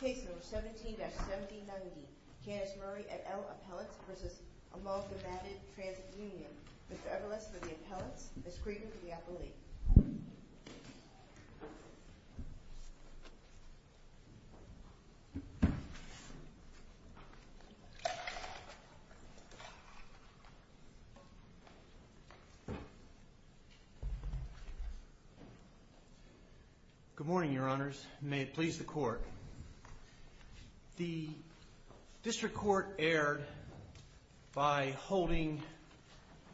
Case number 17-1790. Candice Murray at L. Appellates v. Amalgamated Transit Union. Mr. Everless for the Appellates, Ms. Creighton for the Appellate. Good morning, Your Honors. May it please the Court. The District Court erred by holding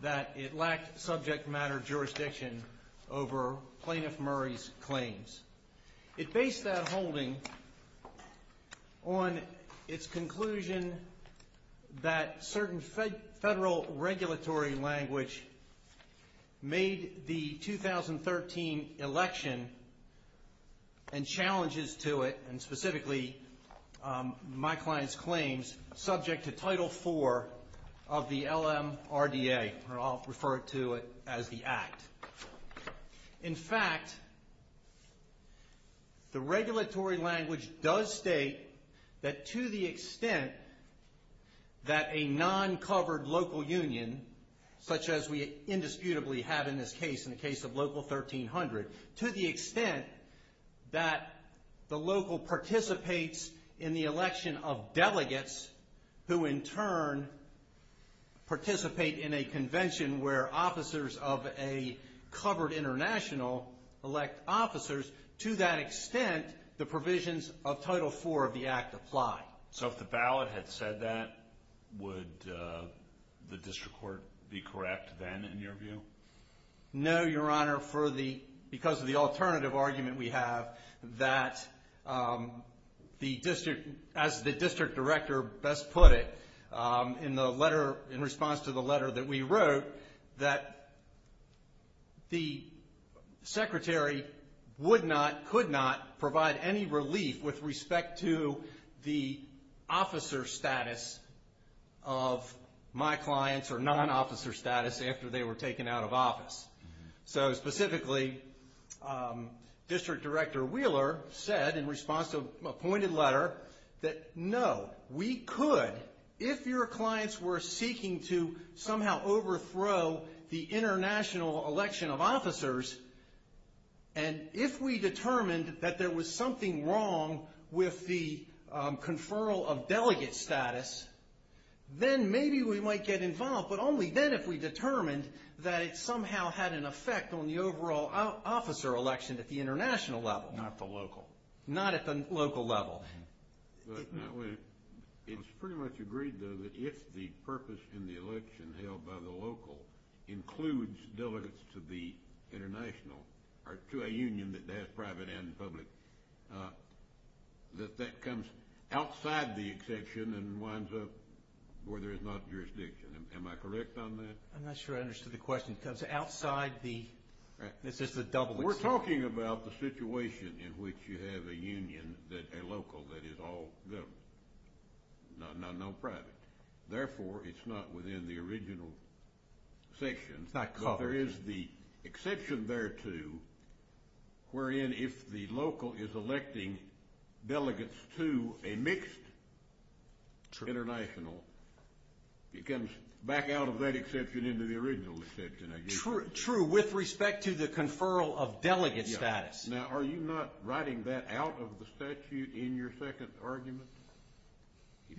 that it lacked subject matter jurisdiction over Plaintiff Murray's claims. It based that holding on its conclusion that certain federal regulatory language made the 2013 election and challenges to it, and specifically my client's claims, subject to Title IV of the LMRDA, or I'll refer to it as the Act. In fact, the regulatory language does state that to the extent that a non-covered local union, such as we indisputably have in this case, in the case of Local 1300, to the extent that the local participates in the election of delegates who in turn participate in a convention where officers of a covered international elect officers, to that extent, the provisions of Title IV of the Act apply. So if the ballot had said that, would the District Court be correct then in your view? No, Your Honor, for the, because of the alternative argument we have that the District, as the District Director best put it, in the letter, in response to the letter that we wrote, that the Secretary would not, could not provide any relief with respect to the officer status of my clients or non-officer status after they were taken out of office. So specifically, District Director Wheeler said in response to a pointed letter that no, we could, if your clients were seeking to somehow overthrow the international election of officers, and if we determined that there was something wrong with the conferral of delegate status, then maybe we might get involved, but only then if we determined that it somehow had an effect on the overall officer election at the international level. Not the local. Not at the local level. It's pretty much agreed, though, that if the purpose in the election held by the local includes delegates to the international, or to a union that has private and public, that that comes outside the exception and winds up where there is not jurisdiction. Am I correct on that? I'm not sure I understood the question. It comes outside the, it's just a double exception. We're talking about the situation in which you have a union, a local, that is all government, no private. Therefore, it's not within the original section. It's not covered. But there is the exception thereto, wherein if the local is electing delegates to a mixed international, it comes back out of that exception into the original exception, I guess. True, with respect to the conferral of delegate status. Now, are you not writing that out of the statute in your second argument?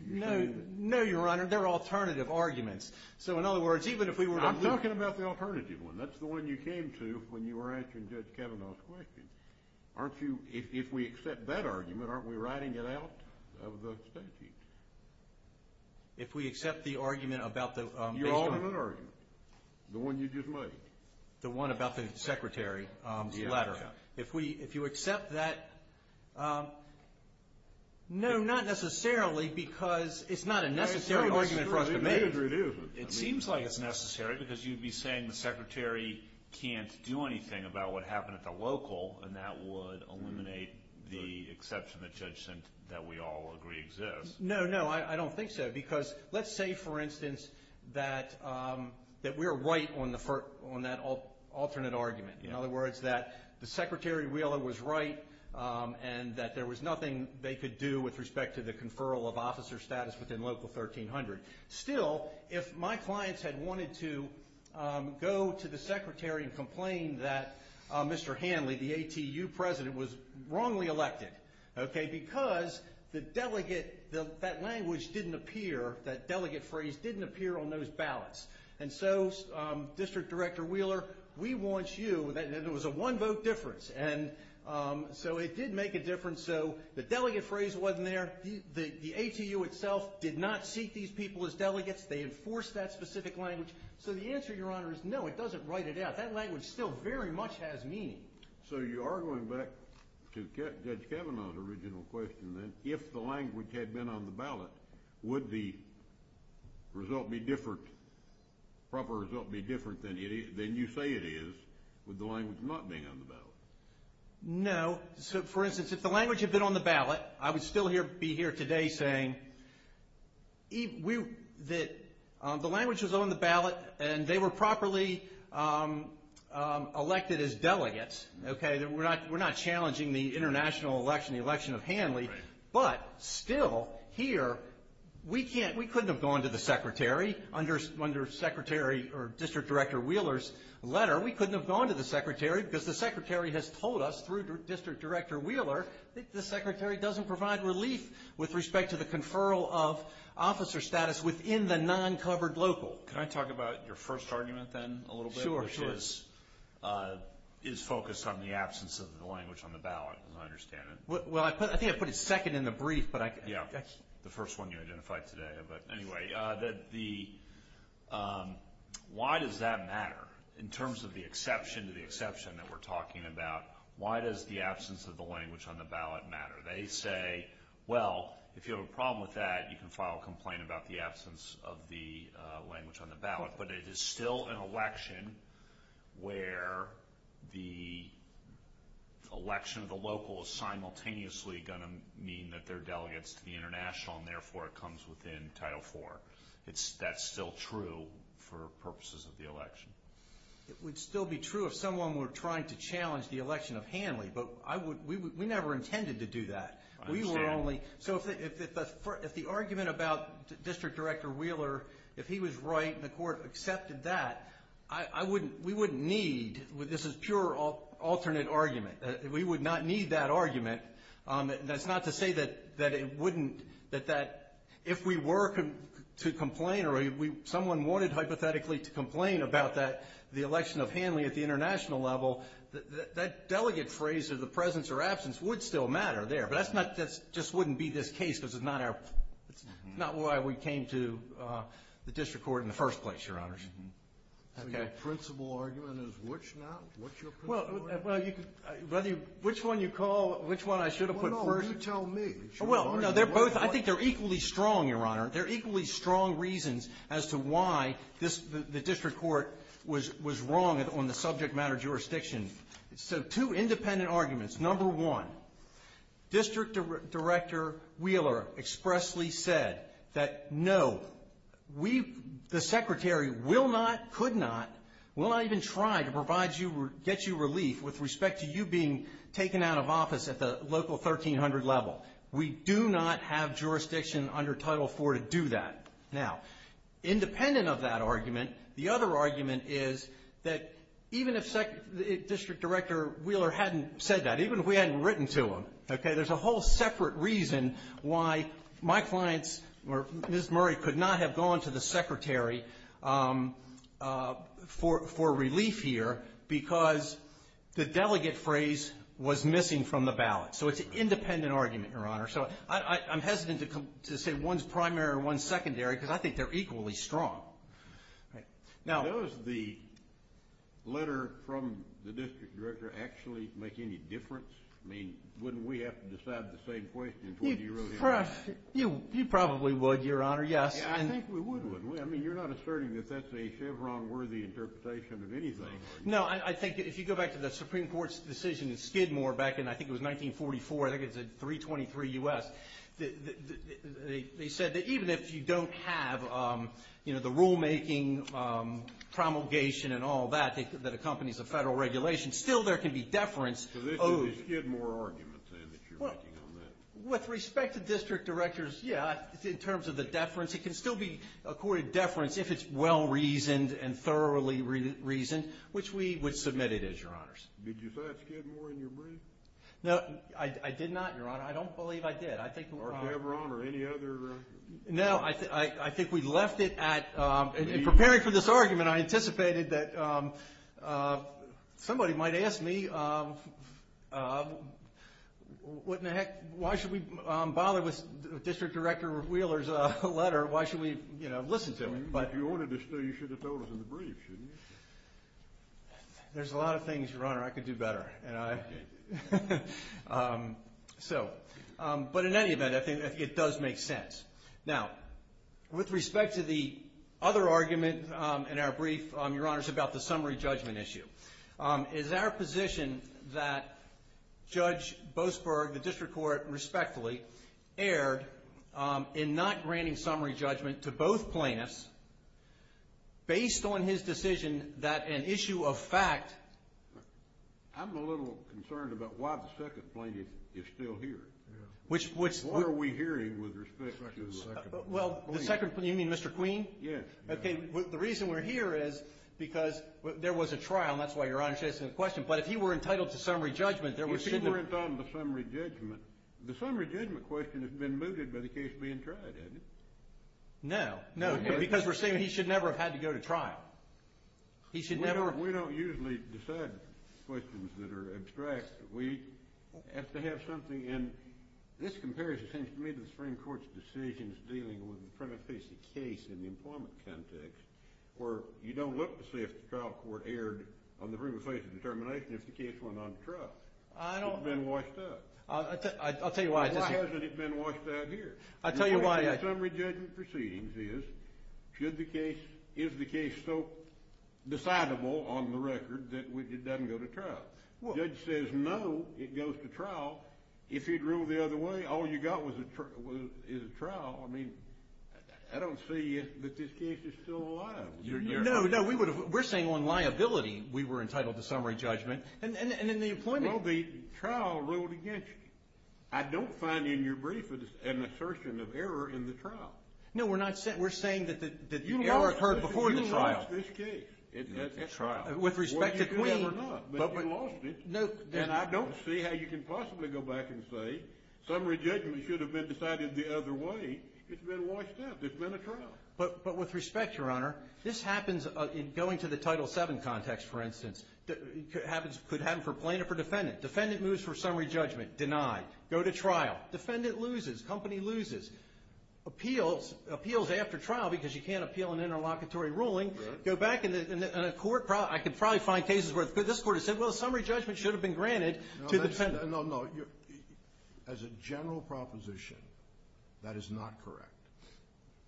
No, Your Honor. They're alternative arguments. So, in other words, even if we were to… I'm talking about the alternative one. That's the one you came to when you were answering Judge Kavanaugh's question. Aren't you, if we accept that argument, aren't we writing it out of the statute? If we accept the argument about the… The one you just made. The one about the secretary's letter. If we, if you accept that, no, not necessarily because it's not a necessary argument for us to make. It seems like it's necessary because you'd be saying the secretary can't do anything about what happened at the local, and that would eliminate the exception that Judge sent that we all agree exists. No, no, I don't think so, because let's say, for instance, that we're right on that alternate argument. In other words, that the secretary really was right, and that there was nothing they could do with respect to the conferral of officer status within Local 1300. Still, if my clients had wanted to go to the secretary and complain that Mr. Hanley, the ATU president, was wrongly elected, okay, because the delegate, that language didn't appear, that delegate phrase didn't appear on those ballots. And so, District Director Wheeler, we want you, and it was a one vote difference, and so it did make a difference, so the delegate phrase wasn't there. The ATU itself did not seat these people as delegates. They enforced that specific language. So the answer, Your Honor, is no, it doesn't write it out. That language still very much has meaning. So you are going back to Judge Kavanaugh's original question, then. If the language had been on the ballot, would the result be different, proper result be different than you say it is with the language not being on the ballot? No. So, for instance, if the language had been on the ballot, I would still be here today saying that the language was on the ballot, and they were properly elected as delegates, okay? We're not challenging the international election, the election of Hanley. But, still, here, we couldn't have gone to the Secretary under Secretary or District Director Wheeler's letter. We couldn't have gone to the Secretary because the Secretary has told us through District Director Wheeler that the Secretary doesn't provide relief with respect to the conferral of officer status within the non-covered local. Can I talk about your first argument, then, a little bit? Sure, sure. Which is focused on the absence of the language on the ballot, as I understand it. Well, I think I put it second in the brief. Yeah, the first one you identified today. But, anyway, why does that matter in terms of the exception to the exception that we're talking about? Why does the absence of the language on the ballot matter? They say, well, if you have a problem with that, you can file a complaint about the absence of the language on the ballot. But it is still an election where the election of the local is simultaneously going to mean that they're delegates to the international, and, therefore, it comes within Title IV. That's still true for purposes of the election. It would still be true if someone were trying to challenge the election of Hanley, but we never intended to do that. I understand. So if the argument about District Director Wheeler, if he was right and the court accepted that, we wouldn't need – this is pure alternate argument – we would not need that argument. That's not to say that it wouldn't – that if we were to complain or someone wanted hypothetically to complain about the election of Hanley at the international level, that delegate phrase of the presence or absence would still matter there. But that just wouldn't be this case because it's not why we came to the district court in the first place, Your Honors. So your principal argument is which now? Well, you could – whether you – which one you call – which one I should have put first? Well, no, you tell me. Well, no, they're both – I think they're equally strong, Your Honor. They're equally strong reasons as to why this – the district court was wrong on the subject matter jurisdiction. So two independent arguments. Number one, District Director Wheeler expressly said that, no, we – the Secretary will not, could not, will not even try to provide you – get you relief with respect to you being taken out of office at the local 1300 level. We do not have jurisdiction under Title IV to do that. Now, independent of that argument, the other argument is that even if District Director Wheeler hadn't said that, even if we hadn't written to him, okay, there's a whole separate reason why my clients or Ms. Murray could not have gone to the Secretary for relief here because the delegate phrase was missing from the ballot. So it's an independent argument, Your Honor. So I'm hesitant to say one's primary or one's secondary because I think they're equally strong. Now – Does the letter from the District Director actually make any difference? I mean, wouldn't we have to decide at the same point as what you wrote here? You probably would, Your Honor, yes. I think we would, wouldn't we? I mean, you're not asserting that that's a Chevron-worthy interpretation of anything. No, I think if you go back to the Supreme Court's decision in Skidmore back in – I think it was 1944. I think it was in 323 U.S. They said that even if you don't have, you know, the rulemaking promulgation and all that that accompanies a federal regulation, still there can be deference owed. So this is a Skidmore argument, then, that you're making on that? With respect to District Directors, yeah, in terms of the deference, it can still be accorded deference if it's well-reasoned and thoroughly reasoned, which we would submit it as, Your Honors. Did you say it's Skidmore in your brief? No, I did not, Your Honor. I don't believe I did. Or Chevron or any other – No, I think we left it at – in preparing for this argument, I anticipated that somebody might ask me, what in the heck – why should we bother with District Director Wheeler's letter? Why should we, you know, listen to it? If you wanted to stay, you should have told us in the brief, shouldn't you? There's a lot of things, Your Honor, I could do better. Okay. So, but in any event, I think it does make sense. Now, with respect to the other argument in our brief, Your Honors, about the summary judgment issue, is our position that Judge Boasberg, the District Court, respectfully, erred in not granting summary judgment to both plaintiffs based on his decision that an issue of fact – I'm a little concerned about why the second plaintiff is still here. Which – What are we hearing with respect to – Well, the second – you mean Mr. Queen? Yes. Okay, the reason we're here is because there was a trial, and that's why Your Honor's asking the question, but if he were entitled to summary judgment, there were – If he weren't on the summary judgment, the summary judgment question has been mooted by the case being tried, hasn't it? No, no, because we're saying he should never have had to go to trial. He should never – Now, we don't usually decide questions that are abstract. We have to have something, and this compares, it seems to me, to the Supreme Court's decisions dealing with the premise-based case in the employment context, where you don't look to see if the trial court erred on the basis of determination if the case went on trial. I don't – It's been washed up. I'll tell you why. Why hasn't it been washed out here? I'll tell you why. The summary judgment proceedings is, should the case – is the case so decidable on the record that it doesn't go to trial? The judge says no, it goes to trial. If he'd ruled the other way, all you got is a trial. I mean, I don't see that this case is still liable. No, no, we're saying on liability we were entitled to summary judgment, and in the employment – Well, the trial ruled against you. I don't find in your brief an assertion of error in the trial. No, we're not – we're saying that the error occurred before the trial. You lost this case. It's a trial. With respect to Queen – Well, you could have or not, but you lost it. And I don't see how you can possibly go back and say summary judgment should have been decided the other way. It's been washed up. It's been a trial. But with respect, Your Honor, this happens – going to the Title VII context, for instance, could happen for plaintiff or defendant. Defendant moves for summary judgment. Denied. Go to trial. Defendant loses. Company loses. Appeals. Appeals after trial because you can't appeal an interlocutory ruling. Go back in a court. I could probably find cases where this court has said, well, summary judgment should have been granted to the defendant. No, no. As a general proposition, that is not correct.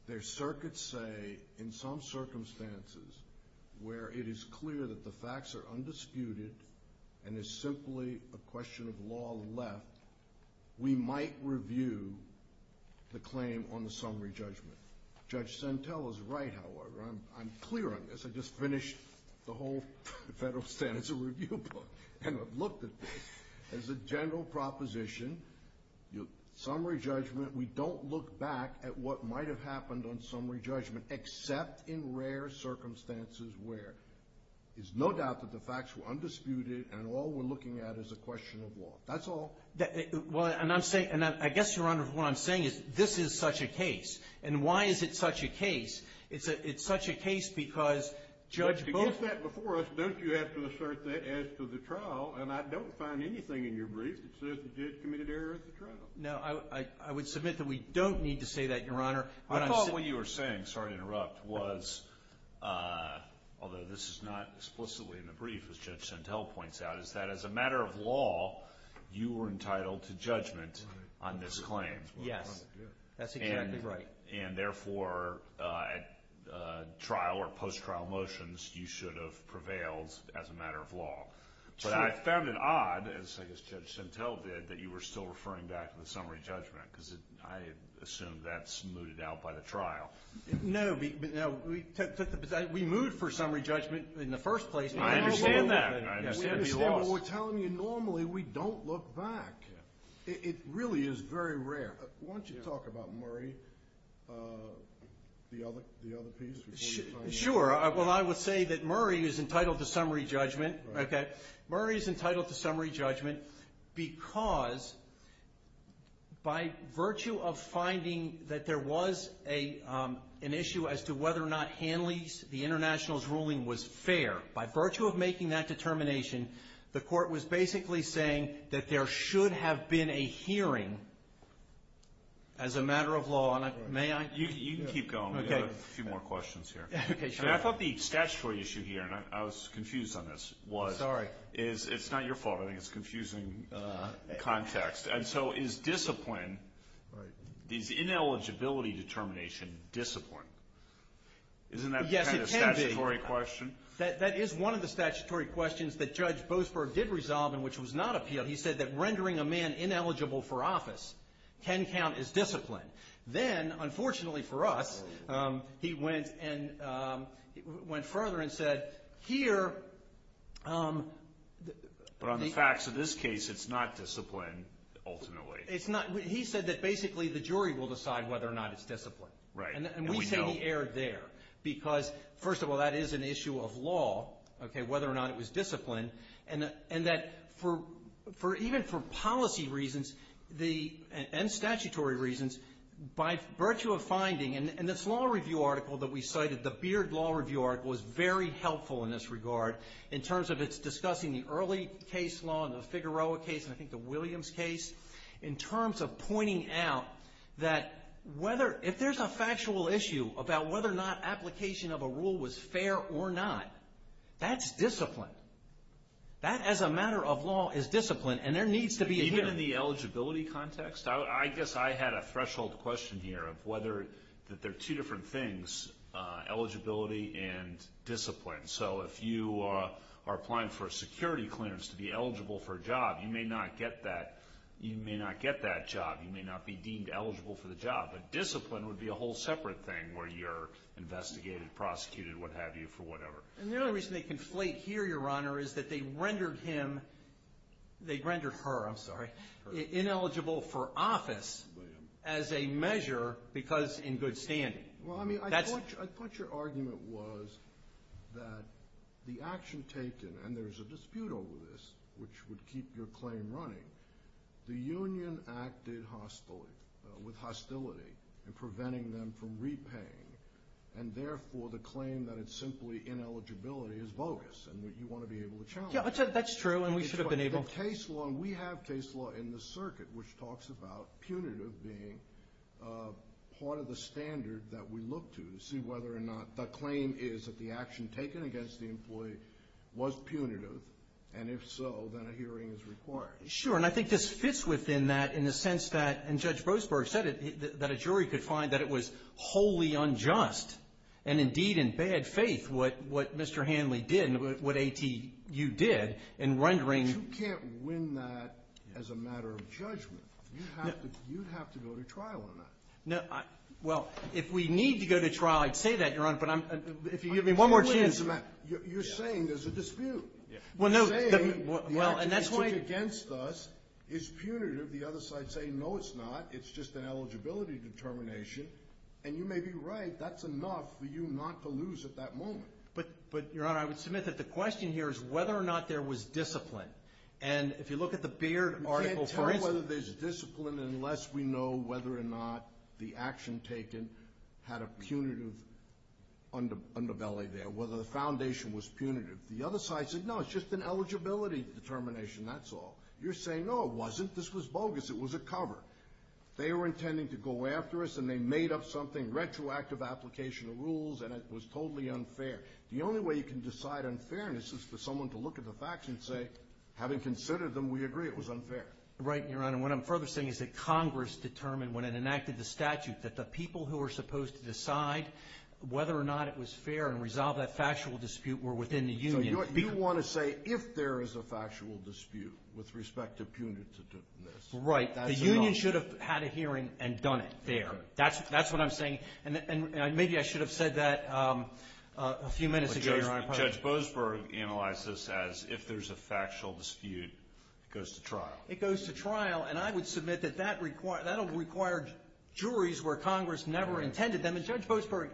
There are circuits, say, in some circumstances where it is clear that the facts are undisputed and it's simply a question of law left, we might review the claim on the summary judgment. Judge Sentell is right, however. I'm clear on this. I just finished the whole Federal Standards Review book and looked at this. As a general proposition, summary judgment, we don't look back at what might have happened on summary judgment except in rare circumstances where there's no doubt that the facts were undisputed and all we're looking at is a question of law. That's all. Well, and I'm saying – and I guess, Your Honor, what I'm saying is this is such a case. And why is it such a case? It's such a case because Judge Booth – To get that before us, don't you have to assert that as to the trial? And I don't find anything in your brief that says the judge committed error at the trial. No, I would submit that we don't need to say that, Your Honor. I thought what you were saying – sorry to interrupt – was, although this is not explicitly in the brief, as Judge Sentell points out, is that as a matter of law, you were entitled to judgment on this claim. Yes. That's exactly right. And therefore, at trial or post-trial motions, you should have prevailed as a matter of law. True. But I found it odd, as I guess Judge Sentell did, that you were still referring back to the summary judgment because I assume that's mooted out by the trial. No. We moved for summary judgment in the first place. I understand that. I understand the loss. We're telling you normally we don't look back. It really is very rare. Why don't you talk about Murray, the other piece? Sure. Well, I would say that Murray is entitled to summary judgment. Okay. Murray is entitled to summary judgment because by virtue of finding that there was an issue as to whether or not Hanley's, the International's, ruling was fair, by virtue of making that determination, the court was basically saying that there should have been a hearing as a matter of law. May I? You can keep going. We've got a few more questions here. Okay. Sure. I thought the statutory issue here, and I was confused on this, was it's not your fault. I think it's confusing context. And so is discipline, this ineligibility determination, discipline? Yes, it can be. Isn't that kind of a statutory question? That is one of the statutory questions that Judge Boasberg did resolve and which was not appealed. He said that rendering a man ineligible for office can count as discipline. Then, unfortunately for us, he went further and said here. But on the facts of this case, it's not discipline ultimately. It's not. He said that basically the jury will decide whether or not it's discipline. Right, and we know. Because, first of all, that is an issue of law, whether or not it was discipline, and that even for policy reasons and statutory reasons, by virtue of finding, and this law review article that we cited, the Beard Law Review article, was very helpful in this regard in terms of its discussing the early case law, the Figueroa case, and I think the Williams case, in terms of pointing out that if there's a factual issue about whether or not application of a rule was fair or not, that's discipline. That, as a matter of law, is discipline, and there needs to be a hearing. Even in the eligibility context? I guess I had a threshold question here of whether there are two different things, eligibility and discipline. So if you are applying for a security clearance to be eligible for a job, you may not get that. You may not get that job. You may not be deemed eligible for the job, but discipline would be a whole separate thing where you're investigated, prosecuted, what have you, for whatever. And the only reason they conflate here, Your Honor, is that they rendered him, they rendered her, I'm sorry, ineligible for office as a measure because in good standing. Well, I mean, I thought your argument was that the action taken, and there's a dispute over this, which would keep your claim running, the union acted with hostility in preventing them from repaying, and therefore the claim that it's simply ineligibility is bogus and you want to be able to challenge that. Yeah, that's true, and we should have been able to. The case law, we have case law in the circuit which talks about punitive being part of the standard that we look to to see whether or not the claim is that the action taken against the employee was punitive, and if so then a hearing is required. Sure, and I think this fits within that in the sense that, and Judge Boasberg said it, that a jury could find that it was wholly unjust and indeed in bad faith what Mr. Hanley did and what ATU did in rendering. But you can't win that as a matter of judgment. You'd have to go to trial on that. Well, if we need to go to trial, I'd say that, Your Honor, but if you give me one more chance. You're saying there's a dispute. You're saying the action taken against us is punitive, the other side saying no it's not, it's just an eligibility determination, and you may be right, that's enough for you not to lose at that moment. But, Your Honor, I would submit that the question here is whether or not there was discipline, and if you look at the Beard article for instance. We can't tell whether there's discipline unless we know whether or not the action taken had a punitive underbelly there, whether the foundation was punitive. The other side said no, it's just an eligibility determination, that's all. You're saying no, it wasn't, this was bogus, it was a cover. They were intending to go after us and they made up something, retroactive application of rules, and it was totally unfair. The only way you can decide unfairness is for someone to look at the facts and say, having considered them, we agree it was unfair. Right, Your Honor. And what I'm further saying is that Congress determined when it enacted the statute that the people who were supposed to decide whether or not it was fair and resolve that factual dispute were within the union. So you want to say if there is a factual dispute with respect to punitiveness. Right. The union should have had a hearing and done it there. That's what I'm saying. And maybe I should have said that a few minutes ago, Your Honor. Judge Boasberg analyzed this as if there's a factual dispute, it goes to trial. It goes to trial. And I would submit that that required juries where Congress never intended them. And Judge Boasberg,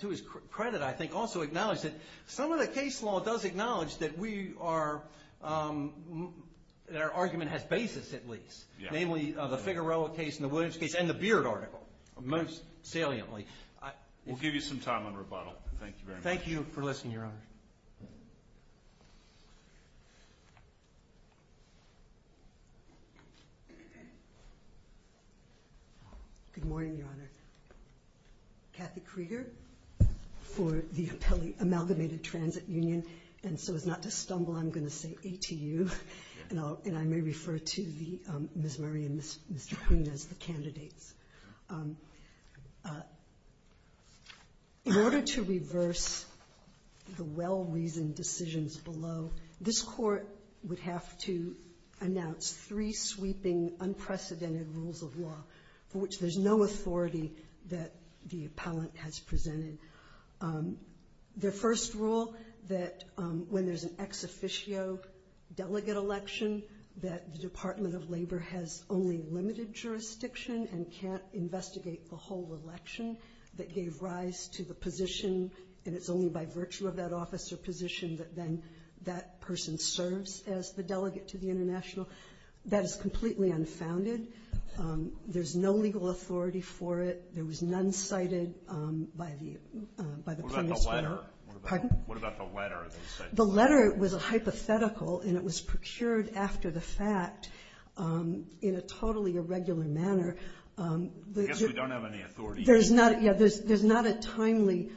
to his credit, I think, also acknowledged that some of the case law does acknowledge that we are, that our argument has basis at least. Namely, the Figueroa case and the Williams case and the Beard article, most saliently. We'll give you some time on rebuttal. Thank you very much. Thank you for listening, Your Honor. Good morning, Your Honor. Kathy Krieger for the Amalgamated Transit Union. And so as not to stumble, I'm going to say ATU. And I may refer to Ms. Murray and Mr. Kuhn as the candidates. In order to reverse the well-reasoned decisions below, this Court would have to announce three sweeping unprecedented rules of law for which there's no authority that the appellant has presented. The first rule, that when there's an ex officio delegate election, that the Department of Labor has only limited jurisdiction and can't investigate the whole election that gave rise to the position, and it's only by virtue of that office or position that then that person serves as the delegate to the international. That is completely unfounded. There's no legal authority for it. There was none cited by the premise there. What about the letter? Pardon? What about the letter? The letter was a hypothetical, and it was procured after the fact in a totally irregular manner. I guess we don't have any authority. There's not a timely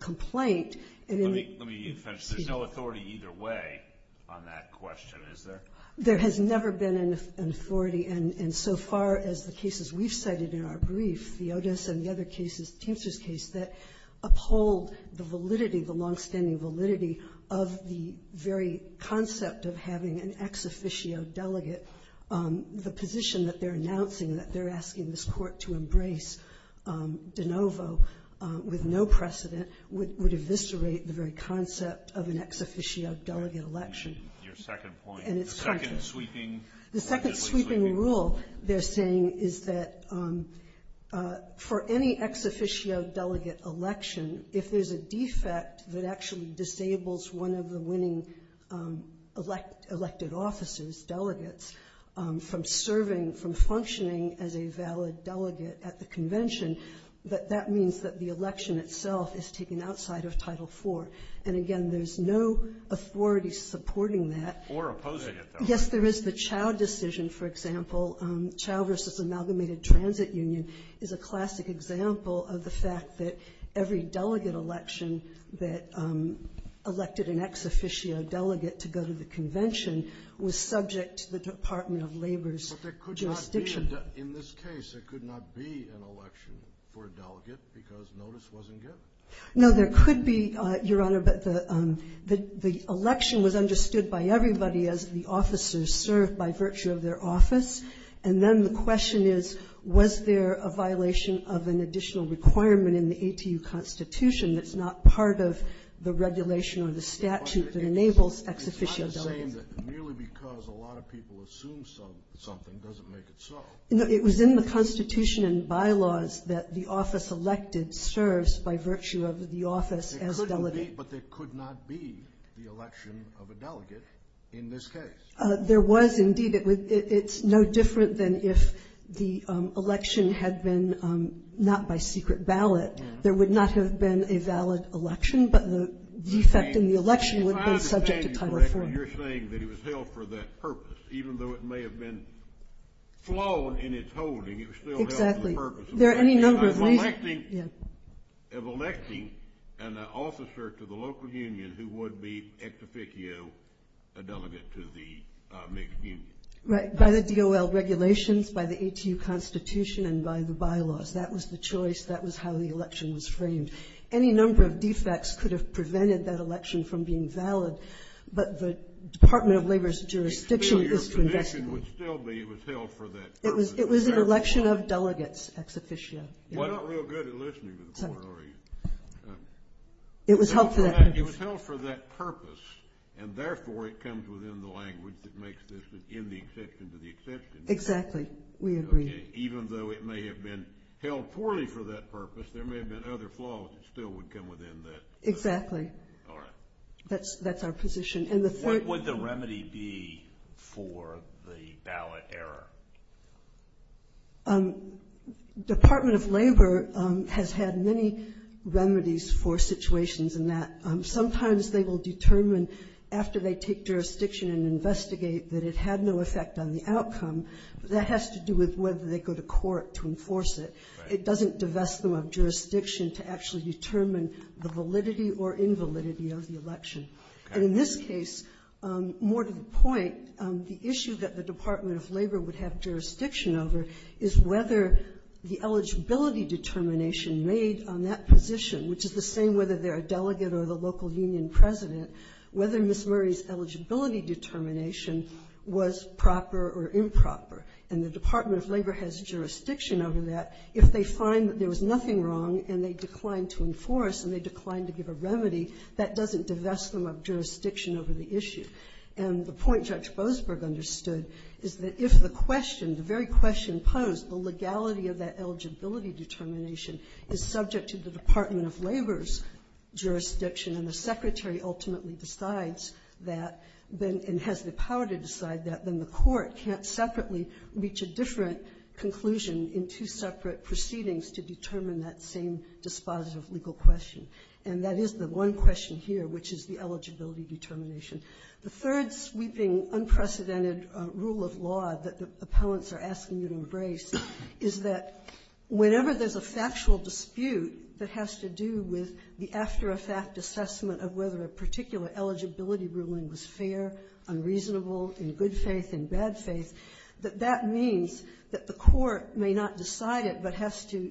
complaint. Let me finish. There's no authority either way on that question, is there? There has never been an authority. And so far as the cases we've cited in our brief, the Otis and the other cases, Timster's case, that uphold the validity, the longstanding validity of the very concept of having an ex officio delegate, the position that they're announcing, that they're asking this Court to embrace de novo with no precedent, would eviscerate the very concept of an ex officio delegate election. Your second point. The second sweeping legislation. The second sweeping rule they're saying is that for any ex officio delegate election, if there's a defect that actually disables one of the winning elected officers, delegates, from serving, from functioning as a valid delegate at the convention, that that means that the election itself is taken outside of Title IV. And again, there's no authority supporting that. Or opposing it, though. Yes, there is. The Chao decision, for example, Chao v. Amalgamated Transit Union, is a classic example of the fact that every delegate election that elected an ex officio delegate to go to the convention was subject to the Department of Labor's jurisdiction. But there could not be, in this case, there could not be an election for a delegate because notice wasn't given. No, there could be, Your Honor, but the election was understood by everybody as the officers served by virtue of their office. And then the question is, was there a violation of an additional requirement in the ATU Constitution that's not part of the regulation or the statute that enables ex officio delegates? It's not the same merely because a lot of people assume something doesn't make it so. No, it was in the Constitution and bylaws that the office elected serves by virtue of the office as delegate. But there could not be the election of a delegate in this case. There was indeed. It's no different than if the election had been not by secret ballot. There would not have been a valid election, but the defect in the election would have been subject to Title IV. If I understand you correctly, you're saying that it was held for that purpose, even though it may have been flawed in its holding, it was still held for the purpose of that purpose. Exactly. Of electing an officer to the local union who would be ex officio a delegate to the mixed union. Right. By the DOL regulations, by the ATU Constitution, and by the bylaws. That was the choice. That was how the election was framed. Any number of defects could have prevented that election from being valid, but the Department of Labor's jurisdiction is to investigate. It would still be held for that purpose. It was an election of delegates ex officio. You're not real good at listening to the board, are you? It was held for that purpose. It was held for that purpose, and therefore it comes within the language that makes this an in the exception to the exception. Exactly. We agree. Okay. Even though it may have been held poorly for that purpose, there may have been other flaws that still would come within that. Exactly. All right. That's our position. What would the remedy be for the ballot error? Department of Labor has had many remedies for situations in that. Sometimes they will determine after they take jurisdiction and investigate that it had no effect on the outcome, but that has to do with whether they go to court to enforce it. Right. It doesn't divest them of jurisdiction to actually determine the validity or invalidity of the election. Okay. And in this case, more to the point, the issue that the Department of Labor would have jurisdiction over is whether the eligibility determination made on that position, which is the same whether they're a delegate or the local union president, whether Ms. Murray's eligibility determination was proper or improper. And the Department of Labor has jurisdiction over that. If they find that there was nothing wrong and they declined to enforce and they declined to give a remedy, that doesn't divest them of jurisdiction over the issue. And the point Judge Boasberg understood is that if the question, the very question posed, the legality of that eligibility determination is subject to the Department of Labor's jurisdiction and the Secretary ultimately decides that and has the power to decide that, then the court can't separately reach a different conclusion in two separate proceedings to determine that same dispositive legal question. And that is the one question here, which is the eligibility determination. The third sweeping unprecedented rule of law that the appellants are asking you to embrace is that whenever there's a factual dispute that has to do with the after-effect assessment of whether a particular eligibility ruling was fair, unreasonable, in good faith, in bad faith, that that means that the court may not decide it but has to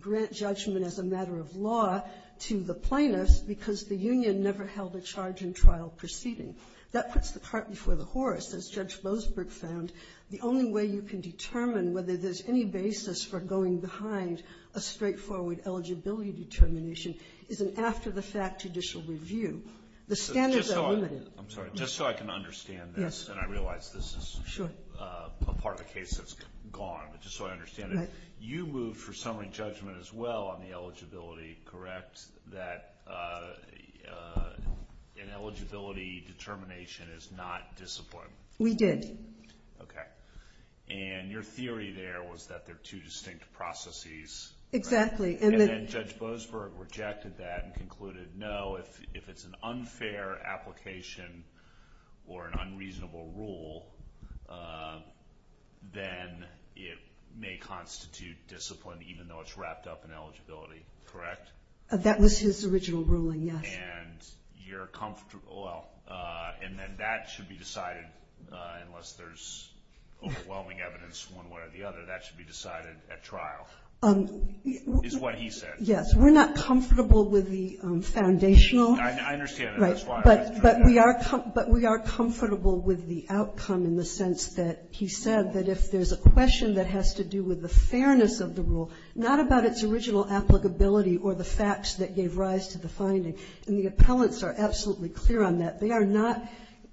grant judgment as a matter of law to the plaintiffs because the union never held a charge-in-trial proceeding. That puts the cart before the horse. As Judge Boasberg found, the only way you can determine whether there's any basis for going behind a straightforward eligibility determination is an after-the-fact judicial review. The standards are limited. I'm sorry. Just so I can understand this, and I realize this is a part of the case that's gone, but just so I understand it, you moved for summary judgment as well on the eligibility, correct, that an eligibility determination is not discipline? We did. Okay. And your theory there was that they're two distinct processes. Exactly. And then Judge Boasberg rejected that and concluded, no, if it's an unfair application or an unreasonable rule, then it may constitute discipline even though it's wrapped up in eligibility, correct? That was his original ruling, yes. And you're comfortable, well, and then that should be decided, unless there's overwhelming evidence one way or the other, that should be decided at trial, is what he said. Yes. We're not comfortable with the foundational. I understand that. But we are comfortable with the outcome in the sense that he said that if there's a question that has to do with the fairness of the rule, not about its original applicability or the facts that gave rise to the finding, and the appellants are absolutely clear on that, they are not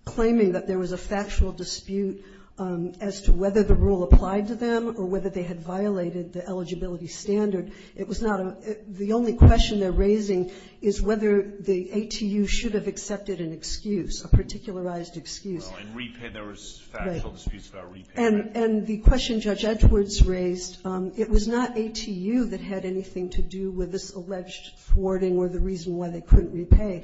claiming that there was a factual dispute as to whether the rule applied to them or whether they had violated the eligibility standard. It was not a, the only question they're raising is whether the ATU should have accepted an excuse, a particularized excuse. Well, in repayment, there was factual disputes about repayment. And the question Judge Edwards raised, it was not ATU that had anything to do with this alleged thwarting or the reason why they couldn't repay.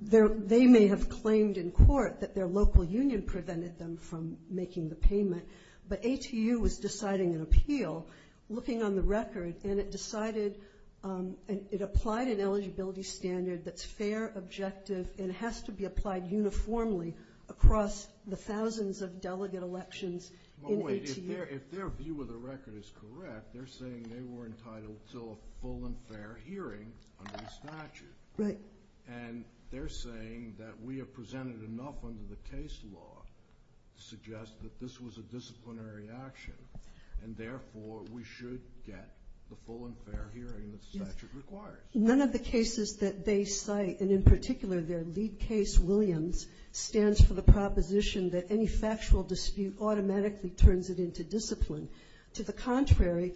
They may have claimed in court that their local union prevented them from making the payment. But ATU was deciding an appeal, looking on the record, and it decided, it applied an eligibility standard that's fair, objective, and has to be applied uniformly across the thousands of delegate elections in ATU. Well, wait. If their view of the record is correct, they're saying they were entitled to a full and fair hearing under the statute. Right. And they're saying that we have presented enough under the case law to suggest that this was a disciplinary action and, therefore, we should get the full and fair hearing that the statute requires. None of the cases that they cite, and in particular their lead case, Williams, stands for the proposition that any factual dispute automatically turns it into discipline. To the contrary,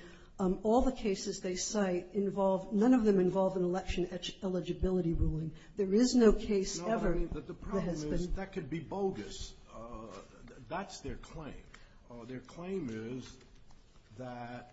all the cases they cite involve, none of them involve an election eligibility ruling. There is no case ever that has been No, I mean, but the problem is that could be bogus. That's their claim. Their claim is that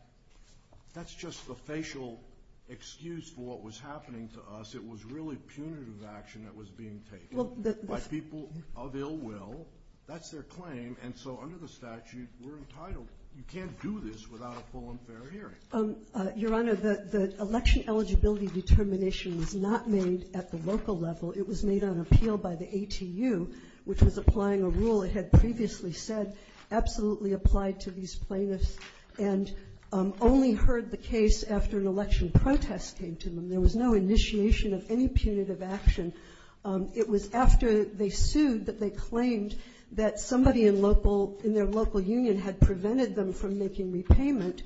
that's just a facial excuse for what was happening to us. It was really punitive action that was being taken by people of ill will. That's their claim. And so under the statute, we're entitled. You can't do this without a full and fair hearing. Your Honor, the election eligibility determination was not made at the local level. It was made on appeal by the ATU, which was applying a rule it had previously said absolutely applied to these plaintiffs and only heard the case after an election protest came to them. There was no initiation of any punitive action. It was after they sued that they claimed that somebody in their local union had prevented them from making repayment,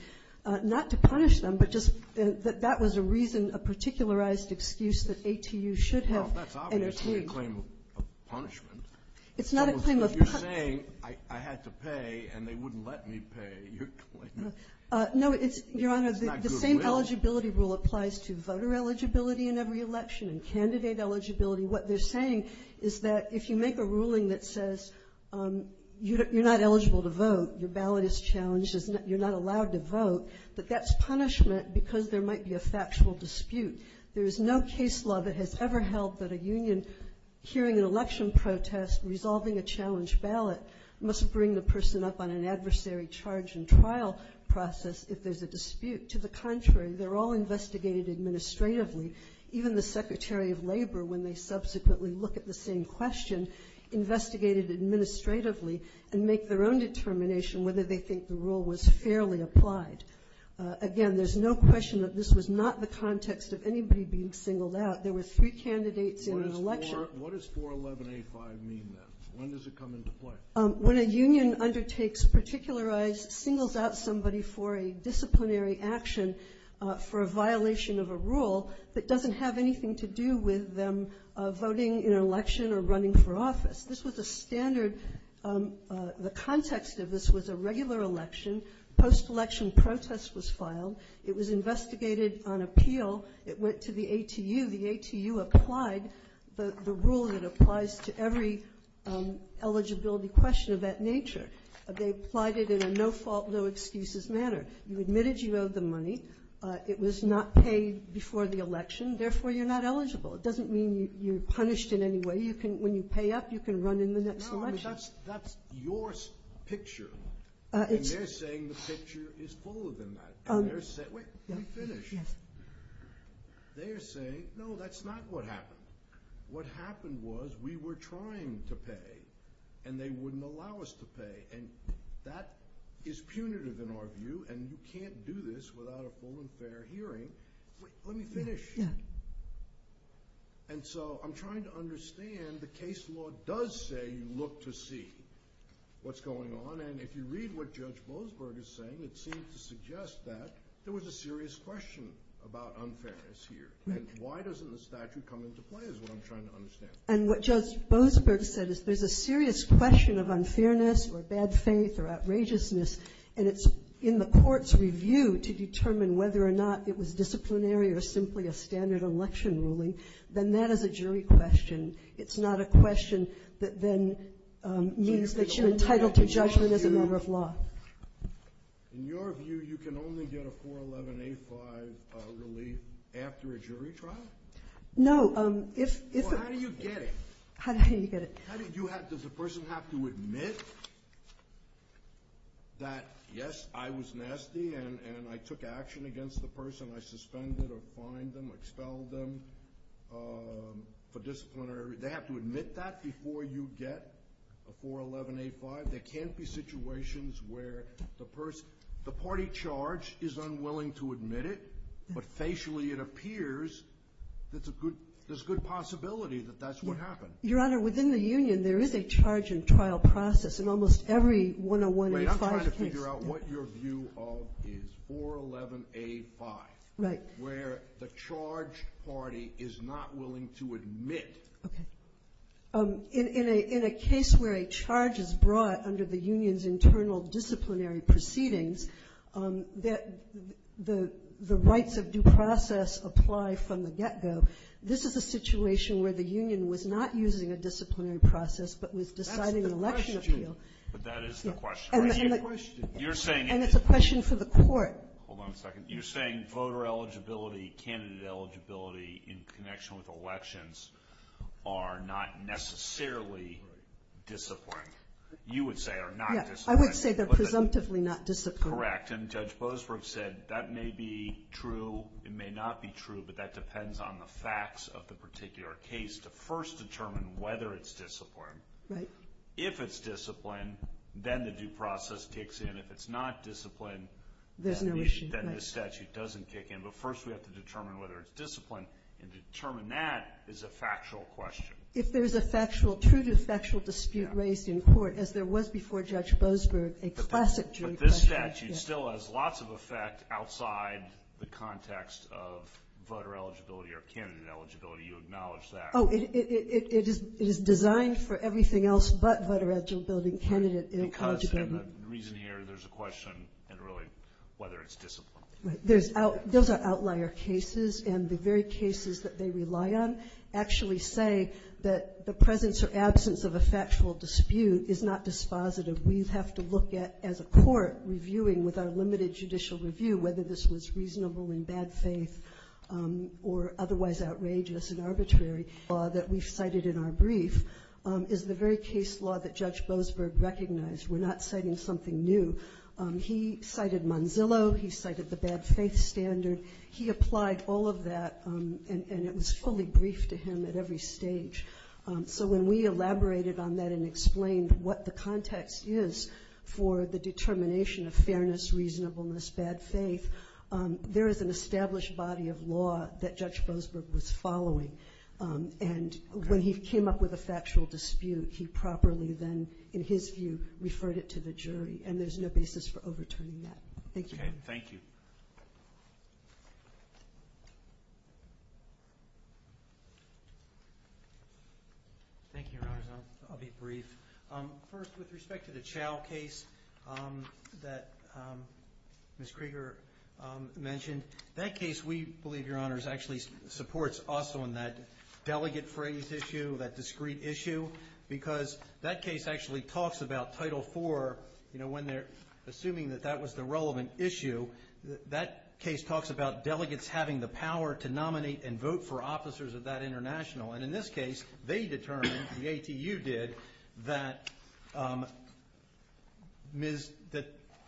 not to punish them, but just that that was a reason, a particularized excuse that ATU should have. Well, that's obviously a claim of punishment. It's not a claim of punishment. So if you're saying I had to pay and they wouldn't let me pay, you're claiming that's not good will. No, Your Honor, the same eligibility rule applies to voter eligibility in every election and candidate eligibility. What they're saying is that if you make a ruling that says you're not eligible to vote, your ballot is challenged, you're not allowed to vote, that that's punishment because there might be a factual dispute. There is no case law that has ever held that a union hearing an election protest, resolving a challenged ballot, must bring the person up on an adversary charge and trial process if there's a dispute. To the contrary, they're all investigated administratively. Even the Secretary of Labor, when they subsequently look at the same question, investigated administratively and make their own determination whether they think the rule was fairly applied. Again, there's no question that this was not the context of anybody being singled out. There were three candidates in an election. What does 41185 mean then? When does it come into play? When a union undertakes particularized, singles out somebody for a disciplinary action for a violation of a rule that doesn't have anything to do with them voting in an election or running for office. This was a standard. The context of this was a regular election. Post-election protest was filed. It was investigated on appeal. It went to the ATU. The ATU applied the rule that applies to every eligibility question of that nature. They applied it in a no-fault, no-excuses manner. You admitted you owed the money. It was not paid before the election. Therefore, you're not eligible. It doesn't mean you're punished in any way. When you pay up, you can run in the next election. That's your picture. They're saying the picture is full of them. Wait, let me finish. They're saying, no, that's not what happened. What happened was we were trying to pay, and they wouldn't allow us to pay. That is punitive in our view, and you can't do this without a full and fair hearing. Wait, let me finish. I'm trying to understand the case law does say you look to see what's going on, and if you read what Judge Boasberg is saying, it seems to suggest that there was a serious question about unfairness here. Why doesn't the statute come into play is what I'm trying to understand. What Judge Boasberg said is there's a serious question of unfairness or bad faith or outrageousness, and it's in the court's review to determine whether or not it was disciplinary or simply a standard election ruling. Then that is a jury question. It's not a question that then means that you're entitled to judgment as a member of law. In your view, you can only get a 411A5 relief after a jury trial? No. Well, how do you get it? How do you get it? Does the person have to admit that, yes, I was nasty and I took action against the person, I suspended or fined them, expelled them for disciplinary? They have to admit that before you get a 411A5? There can't be situations where the party charge is unwilling to admit it, but facially it appears there's a good possibility that that's what happened. Your Honor, within the union there is a charge and trial process in almost every 101A5 case. Wait, I'm trying to figure out what your view of is 411A5, where the charged party is not willing to admit. Okay. In a case where a charge is brought under the union's internal disciplinary proceedings, the rights of due process apply from the get-go. This is a situation where the union was not using a disciplinary process but was deciding an election appeal. That's the question. But that is the question. And it's a question for the court. Hold on a second. You're saying voter eligibility, candidate eligibility in connection with elections are not necessarily disciplinary. You would say are not disciplinary. I would say they're presumptively not disciplinary. Correct. And Judge Boasberg said that may be true, it may not be true, but that depends on the facts of the particular case to first determine whether it's disciplined. Right. If it's disciplined, then the due process kicks in. If it's not disciplined, then the statute doesn't kick in. But first we have to determine whether it's disciplined, and to determine that is a factual question. If there's a factual, true to factual dispute raised in court, as there was before Judge Boasberg, a classic true question. But this statute still has lots of effect outside the context of voter eligibility or candidate eligibility. You acknowledge that. Oh, it is designed for everything else but voter eligibility and candidate eligibility. Because, and the reason here, there's a question in really whether it's disciplined. Right. Those are outlier cases, and the very cases that they rely on actually say that the presence or absence of a factual dispute is not dispositive. We have to look at, as a court reviewing with our limited judicial review, whether this was reasonable in bad faith or otherwise outrageous and arbitrary. That we've cited in our brief is the very case law that Judge Boasberg recognized. We're not citing something new. He cited Manzillo. He cited the bad faith standard. He applied all of that, and it was fully briefed to him at every stage. So when we elaborated on that and explained what the context is for the determination of fairness, reasonableness, bad faith, there is an established body of law that Judge Boasberg was following. And when he came up with a factual dispute, he properly then, in his view, referred it to the jury, and there's no basis for overturning that. Thank you. Okay, thank you. Thank you, Your Honors. I'll be brief. First, with respect to the Chao case that Ms. Krieger mentioned, that case we believe, Your Honors, actually supports us on that delegate phrase issue, that discrete issue, because that case actually talks about Title IV. You know, when they're assuming that that was the relevant issue, that case talks about delegates having the power to nominate and vote for officers of that international. And in this case, they determined, the ATU did, that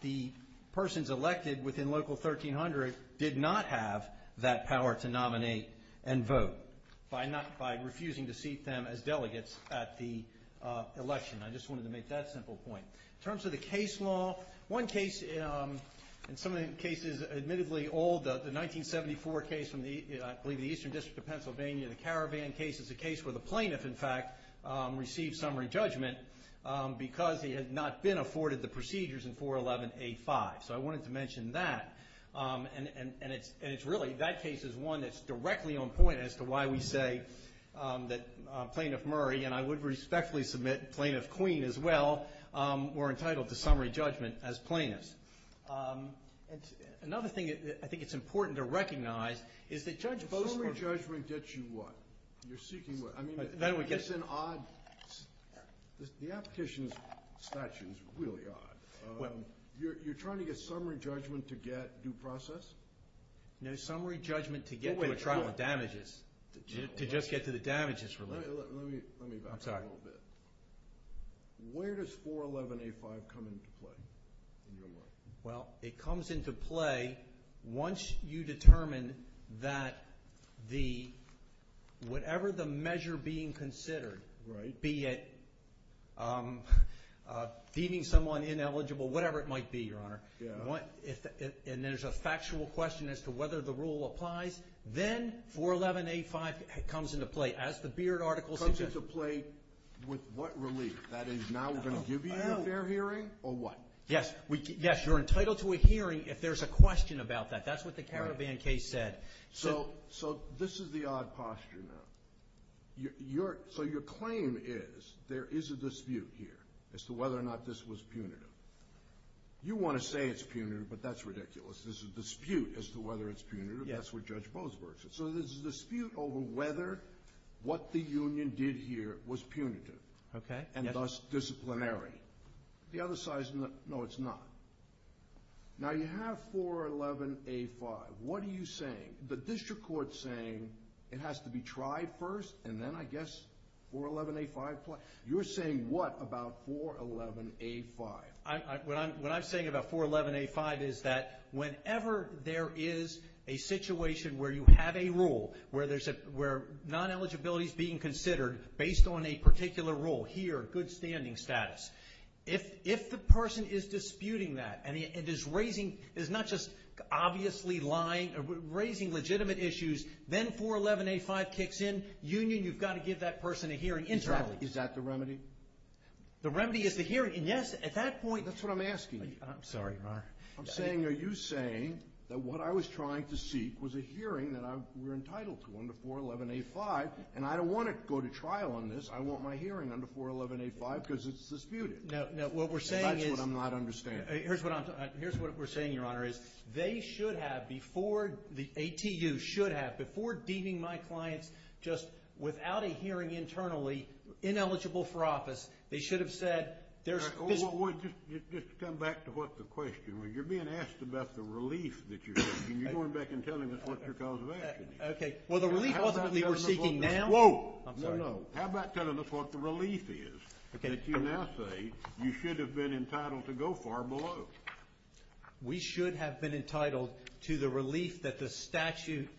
the persons elected within Local 1300 did not have that power to nominate and vote by refusing to seat them as delegates at the election. I just wanted to make that simple point. In terms of the case law, one case, and some of the cases admittedly old, the 1974 case from, I believe, the Eastern District of Pennsylvania, the Caravan case, is a case where the plaintiff, in fact, received summary judgment because he had not been afforded the procedures in 411A5. So I wanted to mention that. And it's really, that case is one that's directly on point as to why we say that Plaintiff Murray, and I would respectfully submit Plaintiff Queen as well, were entitled to summary judgment as plaintiffs. And another thing that I think it's important to recognize is that Judge Bostrom Summary judgment gets you what? You're seeking what? I mean, it's an odd, the application statute is really odd. You're trying to get summary judgment to get due process? No, summary judgment to get to a trial of damages. To just get to the damages related. Let me back up a little bit. Where does 411A5 come into play? Well, it comes into play once you determine that whatever the measure being considered, be it deeming someone ineligible, whatever it might be, Your Honor, and there's a factual question as to whether the rule applies, then 411A5 comes into play. As the Beard article suggests. Comes into play with what relief? That is, now we're going to give you a fair hearing, or what? Yes. Yes, you're entitled to a hearing if there's a question about that. That's what the caravan case said. So this is the odd posture now. So your claim is there is a dispute here as to whether or not this was punitive. You want to say it's punitive, but that's ridiculous. This is a dispute as to whether it's punitive. That's what Judge Boseberg said. So there's a dispute over whether what the union did here was punitive. Okay. And thus disciplinary. The other side is, no, it's not. Now you have 411A5. What are you saying? The district court's saying it has to be tried first, and then I guess 411A5 applies. You're saying what about 411A5? What I'm saying about 411A5 is that whenever there is a situation where you have a rule, where non-eligibility is being considered based on a particular rule, here, good standing status, if the person is disputing that and is not just obviously lying, raising legitimate issues, then 411A5 kicks in. Union, you've got to give that person a hearing internally. Exactly. Is that the remedy? The remedy is the hearing. And, yes, at that point— That's what I'm asking you. I'm sorry, Your Honor. I'm saying, are you saying that what I was trying to seek was a hearing that we're entitled to under 411A5, and I don't want to go to trial on this. I want my hearing under 411A5 because it's disputed. No, what we're saying is— And that's what I'm not understanding. Here's what we're saying, Your Honor, is they should have, before the ATU should have, before deeming my clients just without a hearing internally, ineligible for office, they should have said— Just come back to what the question was. You're being asked about the relief that you're seeking. You're going back and telling us what your cause of action is. Okay. Well, the relief, ultimately, we're seeking now— Whoa. I'm sorry. No, no. How about telling us what the relief is that you now say you should have been entitled to go far below? We should have been entitled to the relief that the statute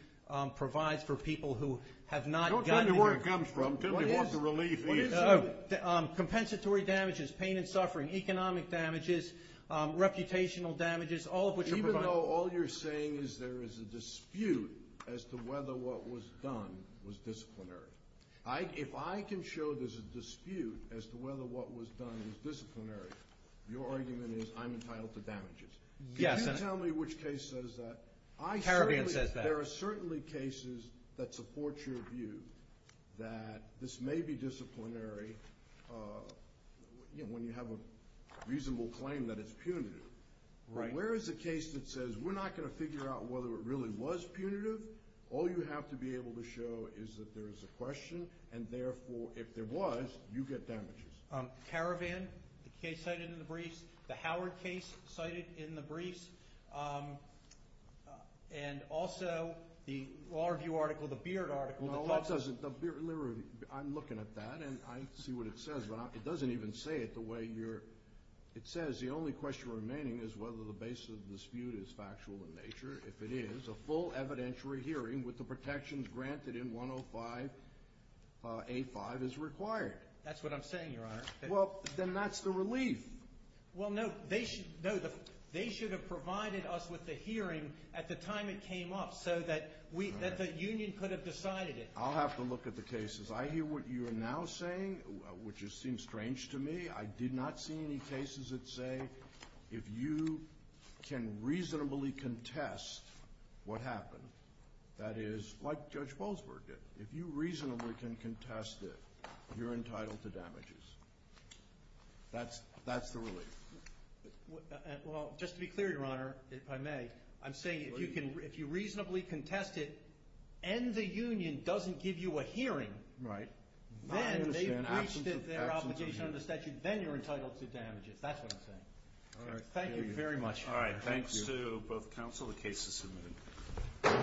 provides for people who have not gotten— Don't tell me where it comes from. Tell me what the relief is. Oh, compensatory damages, pain and suffering, economic damages, reputational damages, all of which are provided— Even though all you're saying is there is a dispute as to whether what was done was disciplinary. If I can show there's a dispute as to whether what was done was disciplinary, your argument is I'm entitled to damages. Yes, and— Can you tell me which case says that? Caribbean says that. There are certainly cases that support your view that this may be disciplinary when you have a reasonable claim that it's punitive. Right. Where is a case that says we're not going to figure out whether it really was punitive? All you have to be able to show is that there is a question, and therefore, if there was, you get damages. Caravan, the case cited in the briefs, the Howard case cited in the briefs, and also the Law Review article, the Beard article— No, that doesn't—I'm looking at that, and I see what it says, but it doesn't even say it the way you're— It says the only question remaining is whether the basis of the dispute is factual in nature. If it is, a full evidentiary hearing with the protections granted in 105A5 is required. That's what I'm saying, Your Honor. Well, then that's the relief. Well, no, they should have provided us with the hearing at the time it came up so that the union could have decided it. I'll have to look at the cases. I hear what you are now saying, which seems strange to me. I did not see any cases that say if you can reasonably contest what happened, that is, like Judge Bolsberg did. If you reasonably can contest it, you're entitled to damages. That's the relief. Well, just to be clear, Your Honor, if I may, I'm saying if you reasonably contest it and the union doesn't give you a hearing— Right. —then they've breached their obligation under statute, then you're entitled to damages. That's what I'm saying. All right. Thank you very much. All right. Thanks to both counsel. The case is submitted.